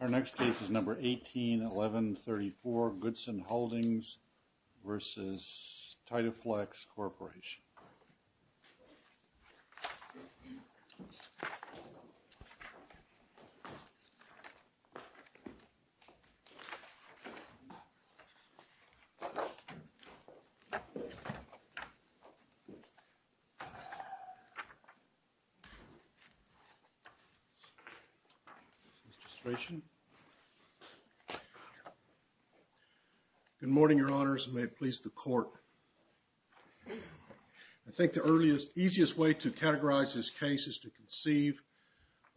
Our next case is number 181134 Goodson Holdings versus Titeflex Corporation Good morning, Your Honors, and may it please the Court. I think the earliest, easiest way to categorize this case is to conceive,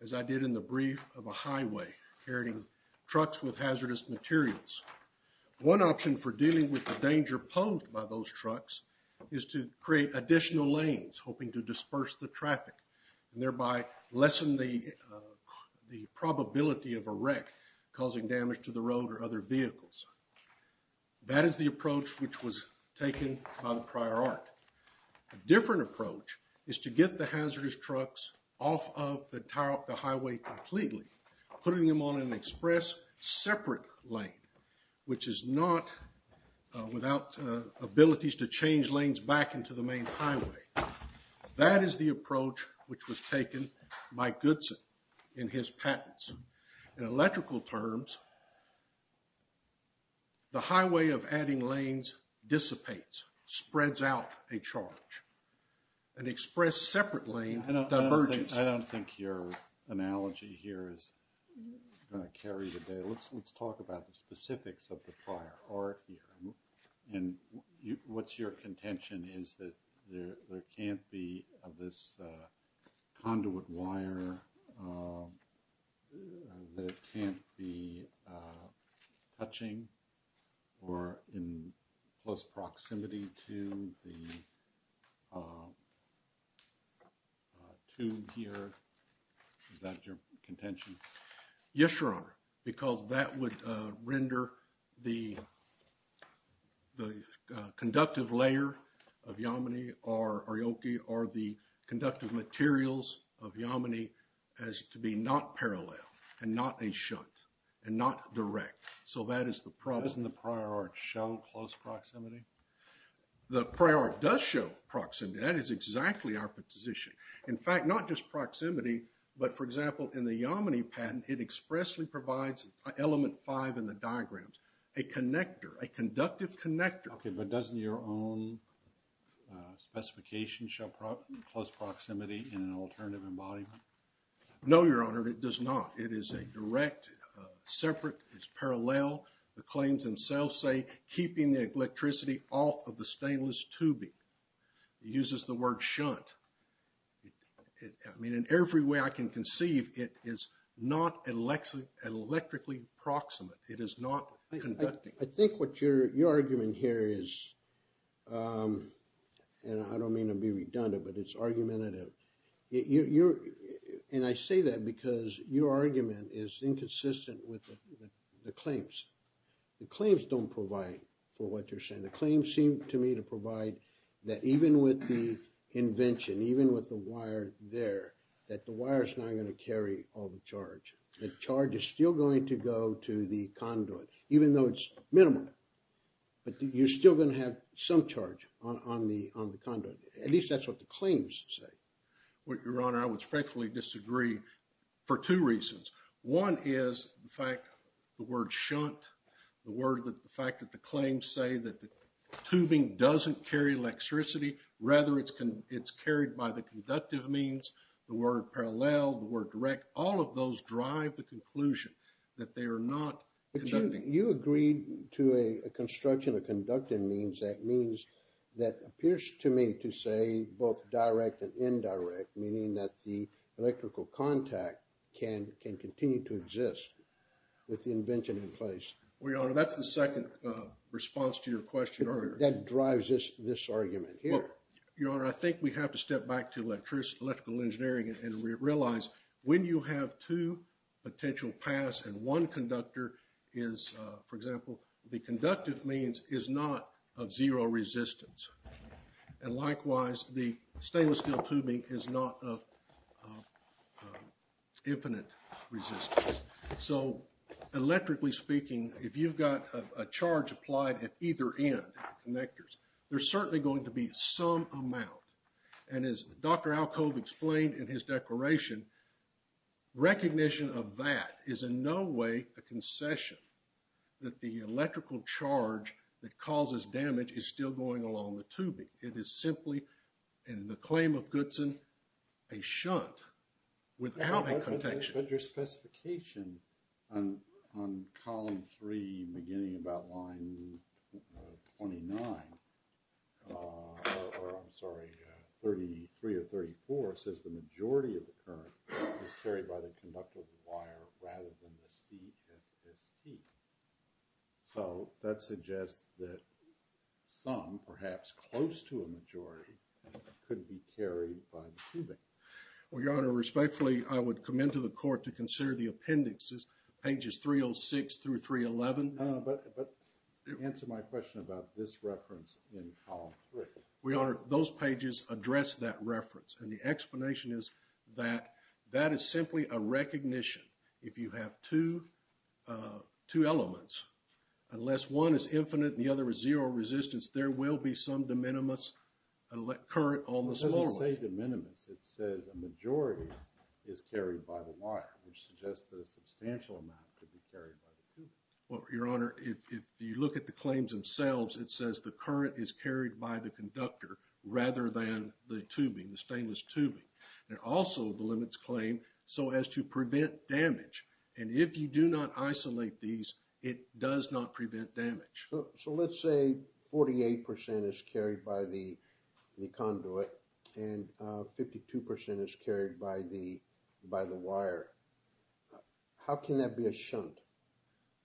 as I did in the brief, of a highway carrying trucks with hazardous materials. One option for dealing with the danger posed by those trucks is to create additional lanes, hoping to disperse the traffic, and thereby lessen the probability of a wreck causing damage to the road or other vehicles. That is the approach which was taken by the prior Art. A different approach is to get the hazardous trucks off of the highway completely, putting them on an express separate lane, which is not without abilities to change lanes back into the main highway. That is the approach which was taken by Goodson in his patents. In electrical terms, the highway of adding lanes dissipates, spreads out a charge, an express separate lane divergence. I don't think your analogy here is going to carry today. Let's talk about the specifics of the prior Art here. And what's your contention is that there can't be this conduit wire that can't be touching or in close proximity to the tube here? Is that your contention? Yes, Your Honor. Because that would render the conductive layer of Yamani or Aoki or the conductive materials of Yamani as to be not parallel and not a shunt and not direct. So that is the problem. Doesn't the prior Art show close proximity? The prior Art does show proximity. That is exactly our position. In fact, not just proximity, but for example, in the Yamani patent, it expressly provides element five in the diagrams. A connector, a conductive connector. Okay, but doesn't your own specification show close proximity in an alternative embodiment? No, Your Honor, it does not. It is a direct, separate, it's parallel. The claims themselves say keeping the electricity off of the stainless tubing. It uses the word shunt. I mean, in every way I can conceive, it is not electrically proximate. It is not conducting. I think what your argument here is, and I don't mean to be redundant, but it's argumentative. And I say that because your argument is inconsistent with the claims. The claims don't provide for what you're saying. The claims seem to me to provide that even with the invention, even with the wire there, that the wire is not going to carry all the charge. The charge is still going to go to the conduit, even though it's minimal. But you're still going to have some charge on the conduit. At least that's what the claims say. Your Honor, I would respectfully disagree for two reasons. One is the fact, the word shunt, the fact that the claims say that the tubing doesn't carry electricity. Rather, it's carried by the conductive means, the word parallel, the word direct. All of those drive the conclusion that they are not conducting. You agreed to a construction of conductive means. That means, that appears to me to say both direct and indirect, meaning that the electrical contact can continue to exist with the invention in place. Well, Your Honor, that's the second response to your question earlier. That drives this argument here. Your Honor, I think we have to step back to electrical engineering and realize when you have two potential paths and one conductor is, for example, the conductive means is not of zero resistance. And likewise, the stainless steel tubing is not of infinite resistance. So, electrically speaking, if you've got a charge applied at either end of the connectors, there's certainly going to be some amount. And as Dr. Alcove explained in his declaration, recognition of that is in no way a concession that the electrical charge that causes damage is still going along the tubing. It is simply, in the claim of Goodson, a shunt without a contention. But your specification on column three, beginning about line 29, or I'm sorry, 33 or 34, says the majority of the current is carried by the conductive wire rather than the CFST. So, that suggests that some, perhaps close to a majority, could be carried by the tubing. Well, your Honor, respectfully, I would commend to the court to consider the appendices, pages 306 through 311. But answer my question about this reference in column three. Your Honor, those pages address that reference. And the explanation is that that is simply a recognition. If you have two elements, unless one is infinite and the other is zero resistance, there will be some de minimis current on the small one. When you say de minimis, it says a majority is carried by the wire, which suggests that a substantial amount could be carried by the tubing. Well, your Honor, if you look at the claims themselves, it says the current is carried by the conductor rather than the tubing, the stainless tubing. And also, the limits claim, so as to prevent damage. And if you do not isolate these, it does not prevent damage. So, let's say 48 percent is carried by the conduit and 52 percent is carried by the wire. How can that be a shunt?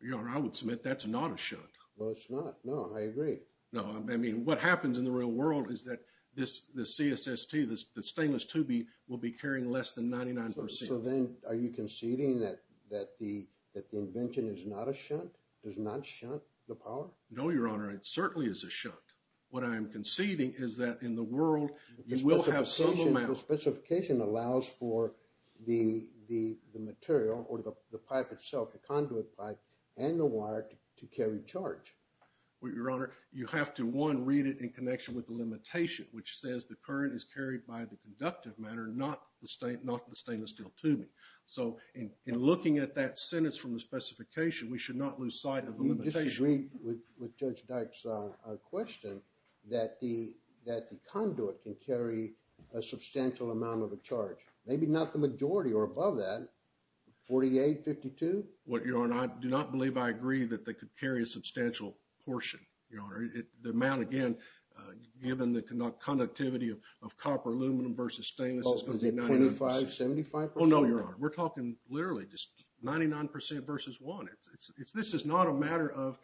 Your Honor, I would submit that's not a shunt. Well, it's not. No, I agree. No, I mean, what happens in the real world is that the CFST, the stainless tubing, will be carrying less than 99 percent. So then, are you conceding that the invention is not a shunt, does not shunt the power? No, your Honor, it certainly is a shunt. What I am conceding is that in the world, you will have some amount. The specification allows for the material or the pipe itself, the conduit pipe and the wire to carry charge. Your Honor, you have to, one, read it in connection with the limitation, which says the current is carried by the conductive matter, not the stainless steel tubing. So, in looking at that sentence from the specification, we should not lose sight of the limitation. Do you disagree with Judge Dykes' question that the conduit can carry a substantial amount of a charge? Maybe not the majority or above that, 48, 52? Your Honor, I do not believe I agree that they could carry a substantial portion, your Honor. The amount, again, given the conductivity of copper aluminum versus stainless is going to be 99 percent. Oh, is it 25, 75 percent? Oh, no, your Honor. We're talking literally just 99 percent versus one. This is not a matter of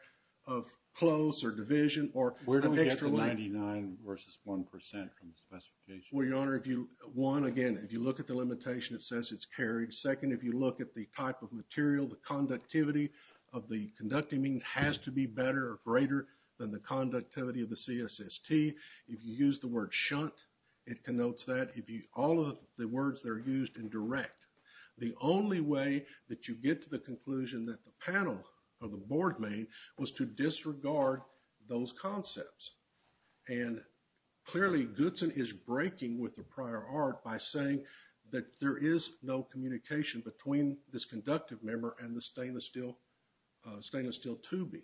close or division or an extra line. Where do we get the 99 versus 1 percent from the specification? Well, your Honor, if you, one, again, if you look at the limitation, it says it's carried. Second, if you look at the type of material, the conductivity of the conducting means has to be better or greater than the conductivity of the CSST. If you use the word shunt, it connotes that. If you, all of the words that are used in direct. The only way that you get to the conclusion that the panel or the board made was to disregard those concepts. And clearly, Goodson is breaking with the prior art by saying that there is no communication between this conductive member and the stainless steel tubing.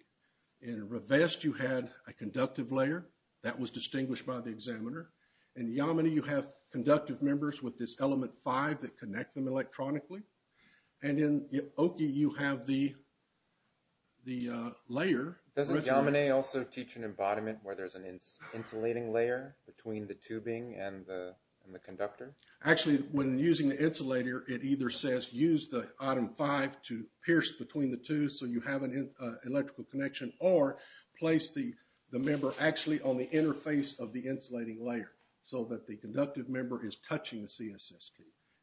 In Rivest, you had a conductive layer. That was distinguished by the examiner. In Yamine, you have conductive members with this element 5 that connect them electronically. And in Oki, you have the layer. Does Yamine also teach an embodiment where there's an insulating layer between the tubing and the conductor? Actually, when using the insulator, it either says use the item 5 to pierce between the two so you have an electrical connection or place the member actually on the interface of the insulating layer so that the conductive member is touching the CSST.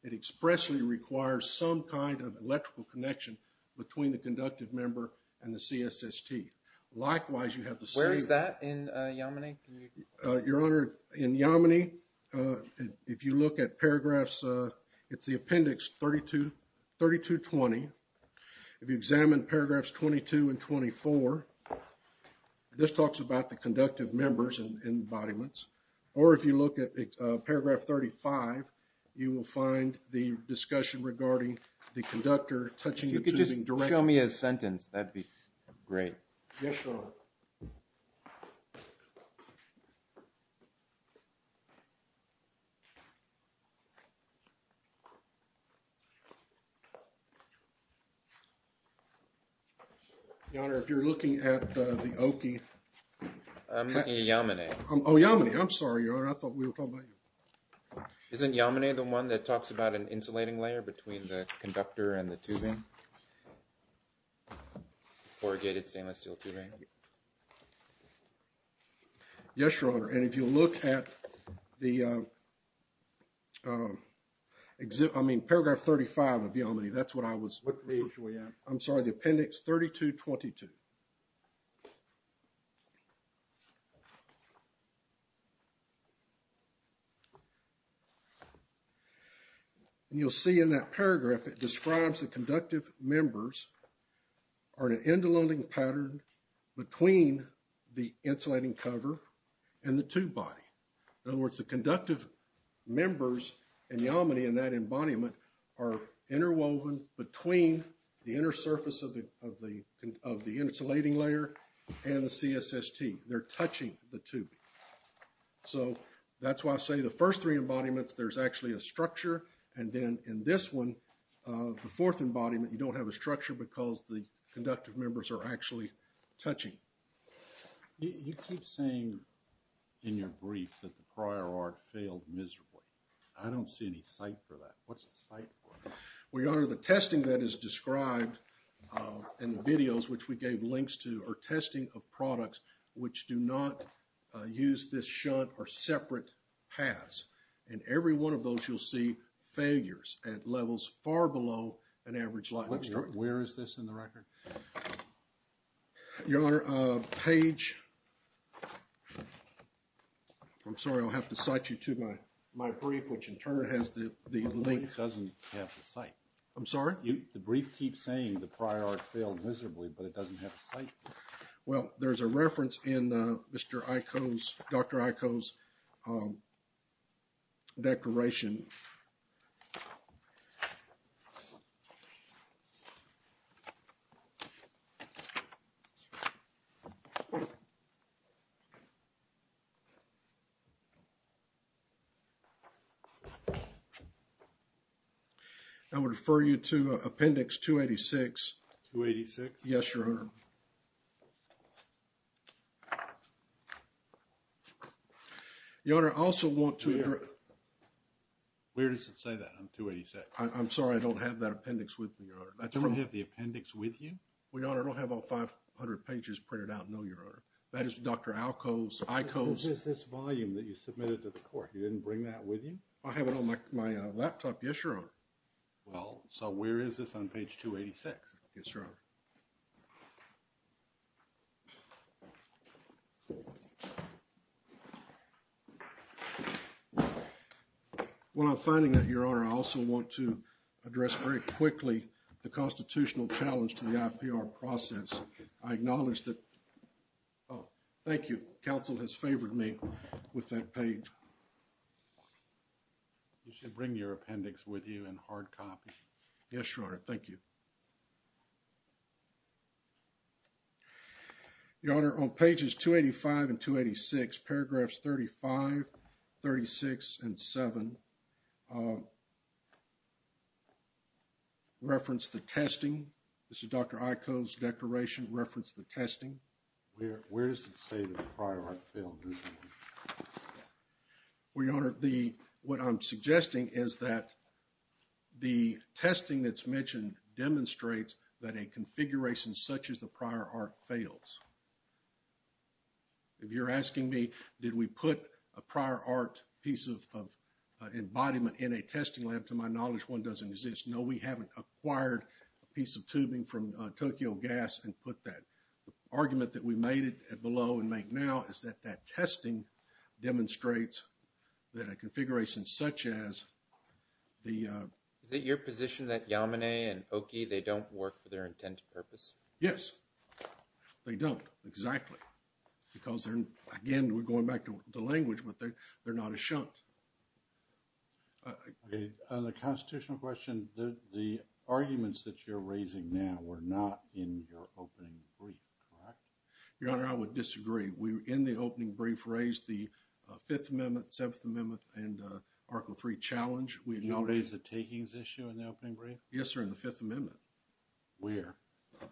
It expressly requires some kind of electrical connection between the conductive member and the CSST. Likewise, you have the same. Where is that in Yamine? Your Honor, in Yamine, if you look at paragraphs, it's the appendix 3220. If you examine paragraphs 22 and 24, this talks about the conductive members and embodiments. Or if you look at paragraph 35, you will find the discussion regarding the conductor touching the tubing directly. If you could just show me a sentence, that would be great. Yes, Your Honor. Your Honor, if you're looking at the Oki. I'm looking at Yamine. Oh, Yamine, I'm sorry, Your Honor. I thought we were talking about you. Isn't Yamine the one that talks about an insulating layer between the conductor and the tubing? Corrugated stainless steel tubing? Yes, Your Honor. And if you look at the, I mean, paragraph 35 of Yamine, that's what I was referring to. I'm sorry, the appendix 3222. And you'll see in that paragraph, it describes the conductive members are in an interwoven pattern between the insulating cover and the tube body. In other words, the conductive members in Yamine and that embodiment are interwoven between the inner surface of the insulating layer and the CSST. They're touching the tubing. So that's why I say the first three embodiments, there's actually a structure. And then in this one, the fourth embodiment, you don't have a structure because the conductive members are actually touching. You keep saying in your brief that the prior art failed miserably. I don't see any site for that. What's the site for? Well, Your Honor, the testing that is described in the videos which we gave links to are testing of products which do not use this shunt or separate paths. And every one of those you'll see failures at levels far below an average life expectancy. Where is this in the record? Your Honor, Paige. I'm sorry, I'll have to cite you to my brief which in turn has the link. It doesn't have the site. I'm sorry? The brief keeps saying the prior art failed miserably, but it doesn't have a site. Well, there's a reference in Mr. Iko's, Dr. Iko's declaration. I would refer you to appendix 286. 286? Yes, Your Honor. Your Honor, I also want to... Where does it say that on 286? I'm sorry, I don't have that appendix with me, Your Honor. You don't have the appendix with you? Well, Your Honor, I don't have all 500 pages printed out, no, Your Honor. That is Dr. Alko's, Iko's... This volume that you submitted to the court, you didn't bring that with you? I have it on my laptop, yes, Your Honor. Well, so where is this on page 286? Yes, Your Honor. Well, I'm finding that, Your Honor, I also want to address very quickly the constitutional challenge to the IPR process. I acknowledge that... Oh, thank you. Counsel has favored me with that page. You should bring your appendix with you in hard copy. Yes, Your Honor. Thank you. Your Honor, on pages 285 and 286, paragraphs 35, 36, and 7 reference the testing. This is Dr. Iko's declaration, reference the testing. Where does it say the prior film? Well, Your Honor, what I'm suggesting is that the testing that's mentioned demonstrates that a configuration such as the prior art fails. If you're asking me, did we put a prior art piece of embodiment in a testing lab, to my knowledge, one doesn't exist. No, we haven't acquired a piece of tubing from Tokyo Gas and put that. The argument that we made below and make now is that that testing demonstrates that a configuration such as the... Is it your position that Yamane and Oki, they don't work for their intended purpose? Yes, they don't. Exactly. Because, again, we're going back to the language, but they're not a shunt. On the constitutional question, the arguments that you're raising now were not in your opening brief, correct? Your Honor, I would disagree. We, in the opening brief, raised the Fifth Amendment, Seventh Amendment, and Article III challenge. You don't raise the takings issue in the opening brief? Yes, sir, in the Fifth Amendment. Where? Okay.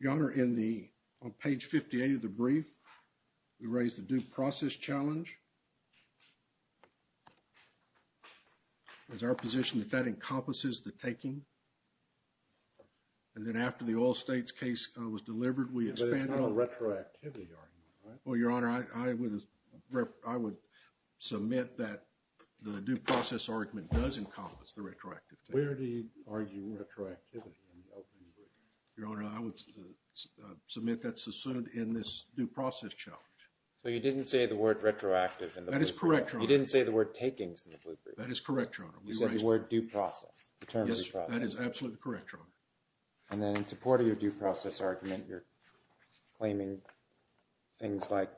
Your Honor, in the, on page 58 of the brief, we raised the due process challenge. Is our position that that encompasses the taking? And then after the oil states case was delivered, we expanded... But it's not a retroactivity argument, right? Well, Your Honor, I would submit that the due process argument does encompass the retroactive taking. Where do you argue retroactivity in the opening brief? Your Honor, I would submit that's assumed in this due process challenge. So you didn't say the word retroactive in the opening brief? That is correct, Your Honor. You didn't say the word takings in the opening brief? That is correct, Your Honor. We raised... You said the word due process. The term due process. Yes, that is absolutely correct, Your Honor. And then in support of your due process argument, you're claiming things like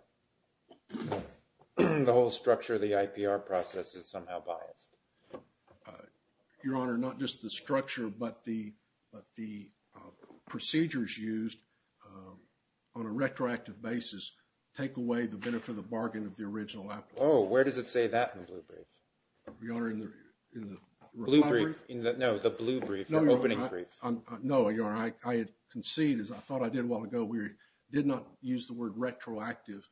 the whole structure of the IPR process is somehow biased. Your Honor, not just the structure, but the procedures used on a retroactive basis take away the benefit of the bargain of the original applicant. Oh, where does it say that in the blue brief? Your Honor, in the... Blue brief? No, the blue brief, the opening brief. No, Your Honor, I concede, as I thought I did a while ago, we did not use the word retroactive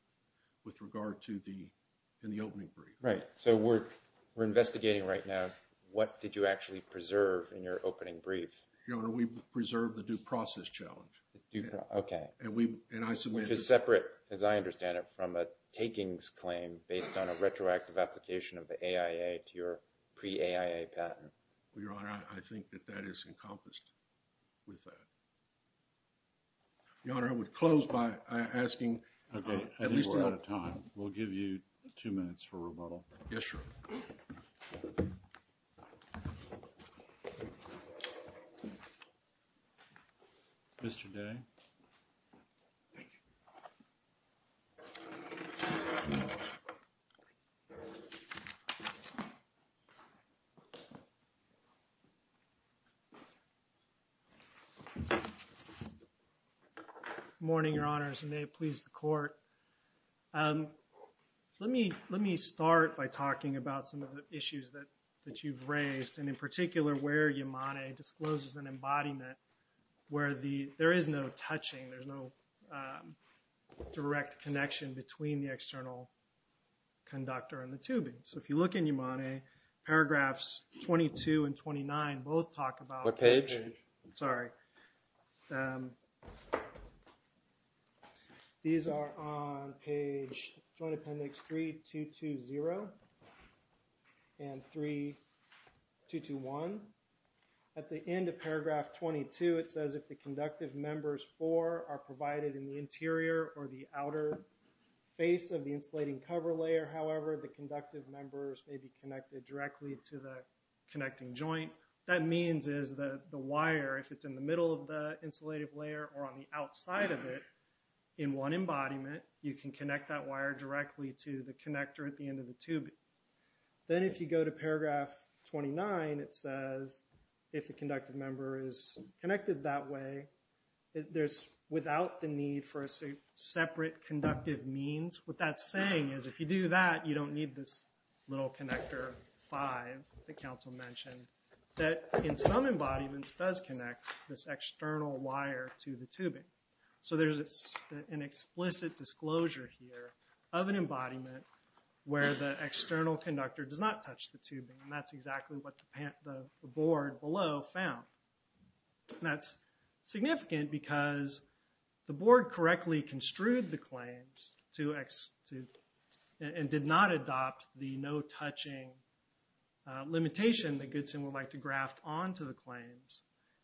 with regard to the opening brief. Right. So we're investigating right now, what did you actually preserve in your opening brief? Your Honor, we preserved the due process challenge. Okay. And I submitted... Which is separate, as I understand it, from a takings claim based on a retroactive application of the AIA to your pre-AIA patent. Well, Your Honor, I think that that is encompassed with that. Your Honor, I would close by asking... Okay, I think we're out of time. We'll give you two minutes for rebuttal. Yes, Your Honor. Mr. Day. Thank you. Good morning, Your Honors, and may it please the Court. Let me start by talking about some of the issues that you've raised, and in particular where Yamane discloses an embodiment where there is no touching, there's no direct connection between the external conductor and the tubing. So if you look in Yamane, paragraphs 22 and 29 both talk about... What page? Sorry. These are on page... Joint Appendix 3-2-2-0 and 3-2-2-1. At the end of paragraph 22, it says, if the conductive members four are provided in the interior or the outer face of the insulating cover layer, however, the conductive members may be connected directly to the connecting joint. What that means is the wire, if it's in the middle of the insulated layer or on the outside of it, in one embodiment, you can connect that wire directly to the connector at the end of the tubing. Then if you go to paragraph 29, it says, if the conductive member is connected that way, there's without the need for a separate conductive means. What that's saying is if you do that, you don't need this little connector five that Council mentioned, that in some embodiments does connect this external wire to the tubing. So there's an explicit disclosure here of an embodiment where the external conductor does not touch the tubing, and that's exactly what the board below found. That's significant because the board correctly construed the claims and did not adopt the no-touching limitation that Goodson would like to graft onto the claims,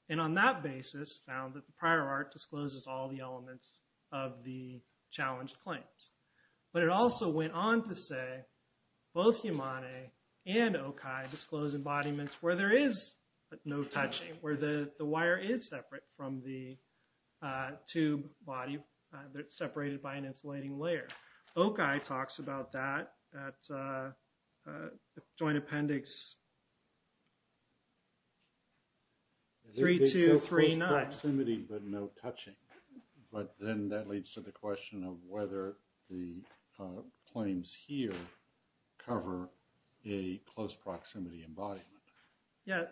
and on that basis found that the prior art discloses all the elements of the challenged claims. But it also went on to say both Yamane and Okai disclose embodiments where there is no touching, where the wire is separate from the tube body, they're separated by an insulating layer. Okai talks about that at Joint Appendix 3239. There's proximity but no touching, but then that leads to the question of whether the claims here cover a close proximity embodiment. Yeah,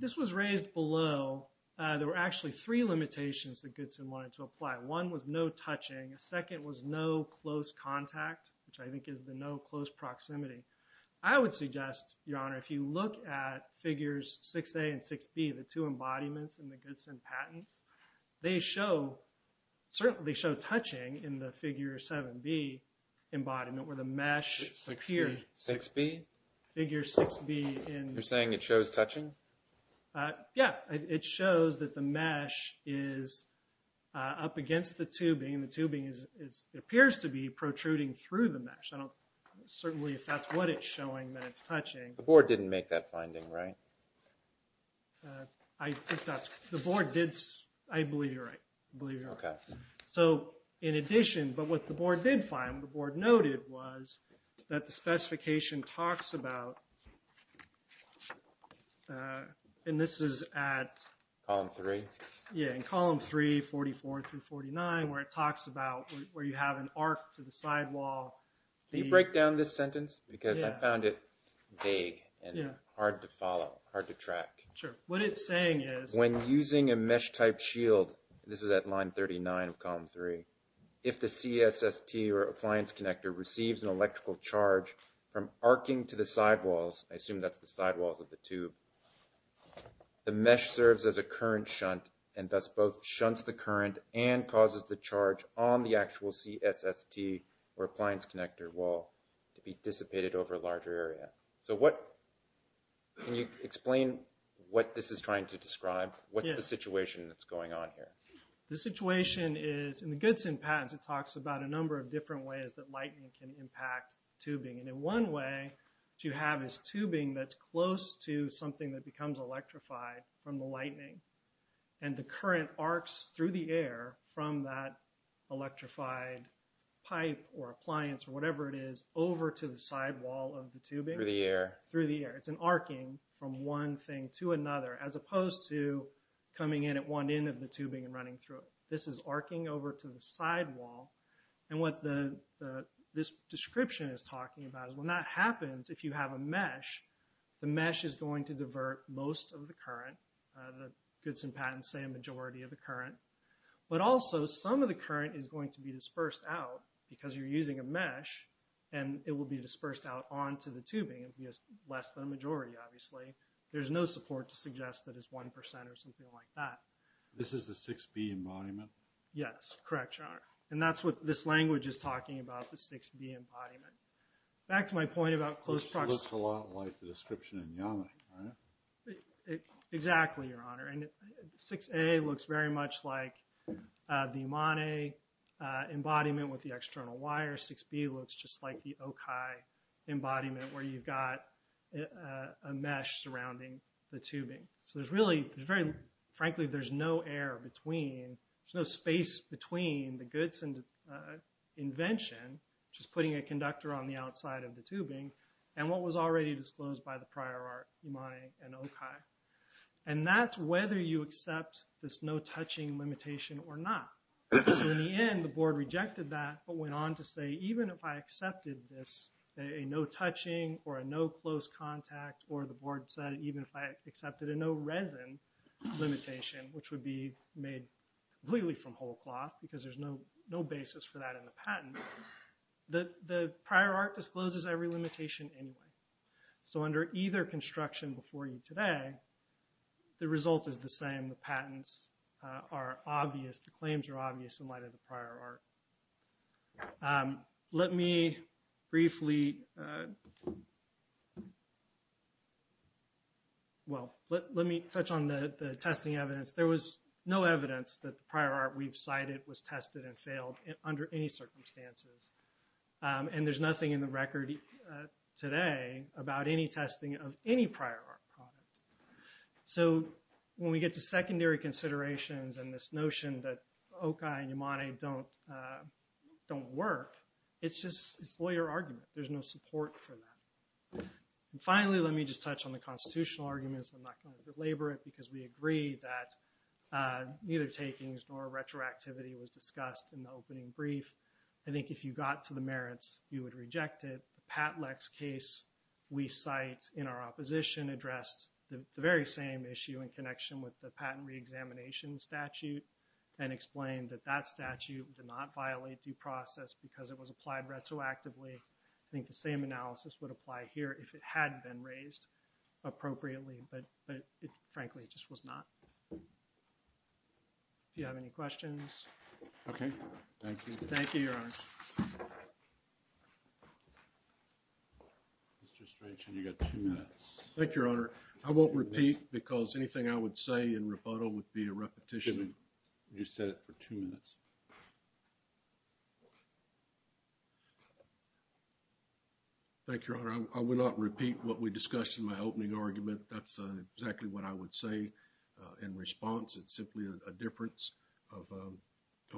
this was raised below. There were actually three limitations that Goodson wanted to apply. One was no touching. A second was no close contact, which I think is the no close proximity. I would suggest, Your Honor, if you look at figures 6A and 6B, the two embodiments in the Goodson patents, they show touching in the figure 7B embodiment where the mesh appears. 6B? Figure 6B. You're saying it shows touching? Yeah, it shows that the mesh is up against the tubing and the tubing appears to be protruding through the mesh. Certainly if that's what it's showing that it's touching. The board didn't make that finding, right? The board did. I believe you're right. Okay. So in addition, but what the board did find, what the board noted was that the specification talks about, and this is at column 3, 44 through 49, where it talks about where you have an arc to the sidewall. Can you break down this sentence? Because I found it vague and hard to follow, hard to track. Sure. What it's saying is when using a mesh-type shield, this is at line 39 of column 3, if the CSST or appliance connector receives an electrical charge from arcing to the sidewalls, I assume that's the sidewalls of the tube, the mesh serves as a current shunt and thus both shunts the current and causes the charge on the actual CSST or appliance connector wall to be dissipated over a larger area. Can you explain what this is trying to describe? What's the situation that's going on here? The situation is in the Goodson patents it talks about a number of different ways that lightning can impact tubing. And one way to have is tubing that's close to something that becomes electrified from the lightning and the current arcs through the air from that electrified pipe or appliance or whatever it is over to the sidewall of the tubing. Through the air. Through the air. It's an arcing from one thing to another as opposed to coming in at one end of the tubing and running through it. This is arcing over to the sidewall. And what this description is talking about is when that happens, if you have a mesh, the mesh is going to divert most of the current. The Goodson patents say a majority of the current. But also some of the current is going to be dispersed out because you're using a mesh and it will be dispersed out onto the tubing. It will be less than a majority obviously. There's no support to suggest that it's 1% or something like that. This is the 6B embodiment? Yes. Correct, Your Honor. And that's what this language is talking about, the 6B embodiment. Back to my point about close proximity. It looks a lot like the description in YAMI, right? Exactly, Your Honor. And 6A looks very much like the IMANE embodiment with the external wire. 6B looks just like the OKAI embodiment where you've got a mesh surrounding the tubing. So there's really, frankly, there's no air between, there's no space between the Goodson invention, which is putting a conductor on the outside of the tubing, and what was already disclosed by the prior art, IMANE and OKAI. And that's whether you accept this no-touching limitation or not. So in the end, the board rejected that but went on to say, even if I accepted this, a no-touching or a no-close contact, or the board said even if I accepted a no-resin limitation, which would be made completely from whole cloth because there's no basis for that in the patent, the prior art discloses every limitation anyway. So under either construction before you today, the result is the same. The patents are obvious. The claims are obvious in light of the prior art. Let me briefly, well, let me touch on the testing evidence. There was no evidence that the prior art we've cited was tested and failed under any circumstances. And there's nothing in the record today about any testing of any prior art product. So when we get to secondary considerations and this notion that OKAI and Yamane don't work, it's just a lawyer argument. There's no support for that. And finally, let me just touch on the constitutional arguments. I'm not going to belabor it because we agree that neither takings nor retroactivity was discussed in the opening brief. I think if you got to the merits, you would reject it. The Patlex case we cite in our opposition addressed the very same issue in connection with the patent reexamination statute and explained that that statute did not violate due process because it was applied retroactively. I think the same analysis would apply here if it had been raised appropriately. But frankly, it just was not. Do you have any questions? OK. Thank you. Thank you, Your Honor. Thank you, Your Honor. I won't repeat because anything I would say in rebuttal would be a repetition. You said it for two minutes. Thank you, Your Honor. I will not repeat what we discussed in my opening argument. That's exactly what I would say in response. It's simply a difference of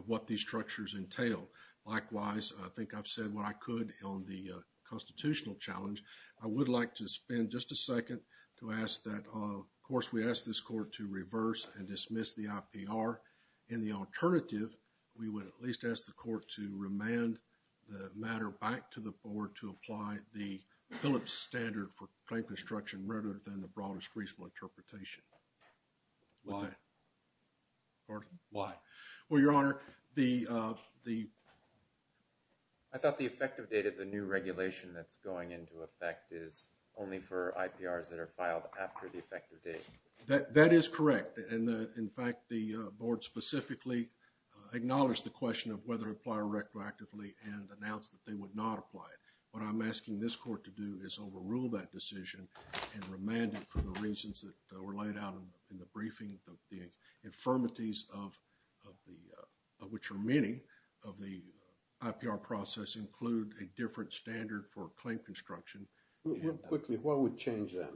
what these structures entail. Likewise, I think I've said what I could on the constitutional challenge. I would like to spend just a second to ask that, of course, we ask this court to reverse and dismiss the IPR. In the alternative, we would at least ask the court to remand the matter back to the board to apply the Phillips standard for claim construction rather than the broadest reasonable interpretation. Why? Pardon? Why? Well, Your Honor, the... I thought the effective date of the new regulation that's going into effect is only for IPRs that are filed after the effective date. That is correct. In fact, the board specifically acknowledged the question of whether to apply retroactively and announced that they would not apply it. What I'm asking this court to do is overrule that decision and remand it for the reasons that were laid out in the briefing, the infirmities of which are many of the IPR process include a different standard for claim construction. Real quickly, what would change then?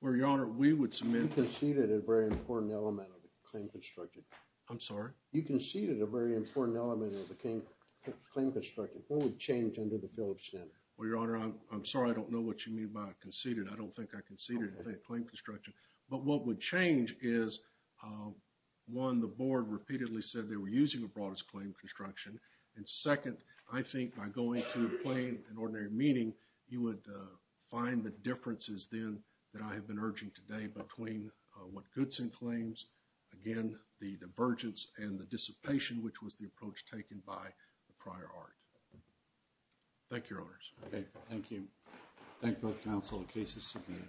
Well, Your Honor, we would submit... You conceded a very important element of the claim construction. I'm sorry? You conceded a very important element of the claim construction. What would change under the Phillips standard? Well, Your Honor, I'm sorry, I don't know what you mean by conceded. I don't think I conceded a claim construction. But what would change is, one, the board repeatedly said they were using the broadest claim construction. And second, I think by going through plain and ordinary meaning, you would find the differences then that I have been urging today between what Goodson claims, again, the divergence and the dissipation which was the approach taken by the prior art. Thank you, Your Honors. Okay, thank you. Thank both counsel in case it's submitted.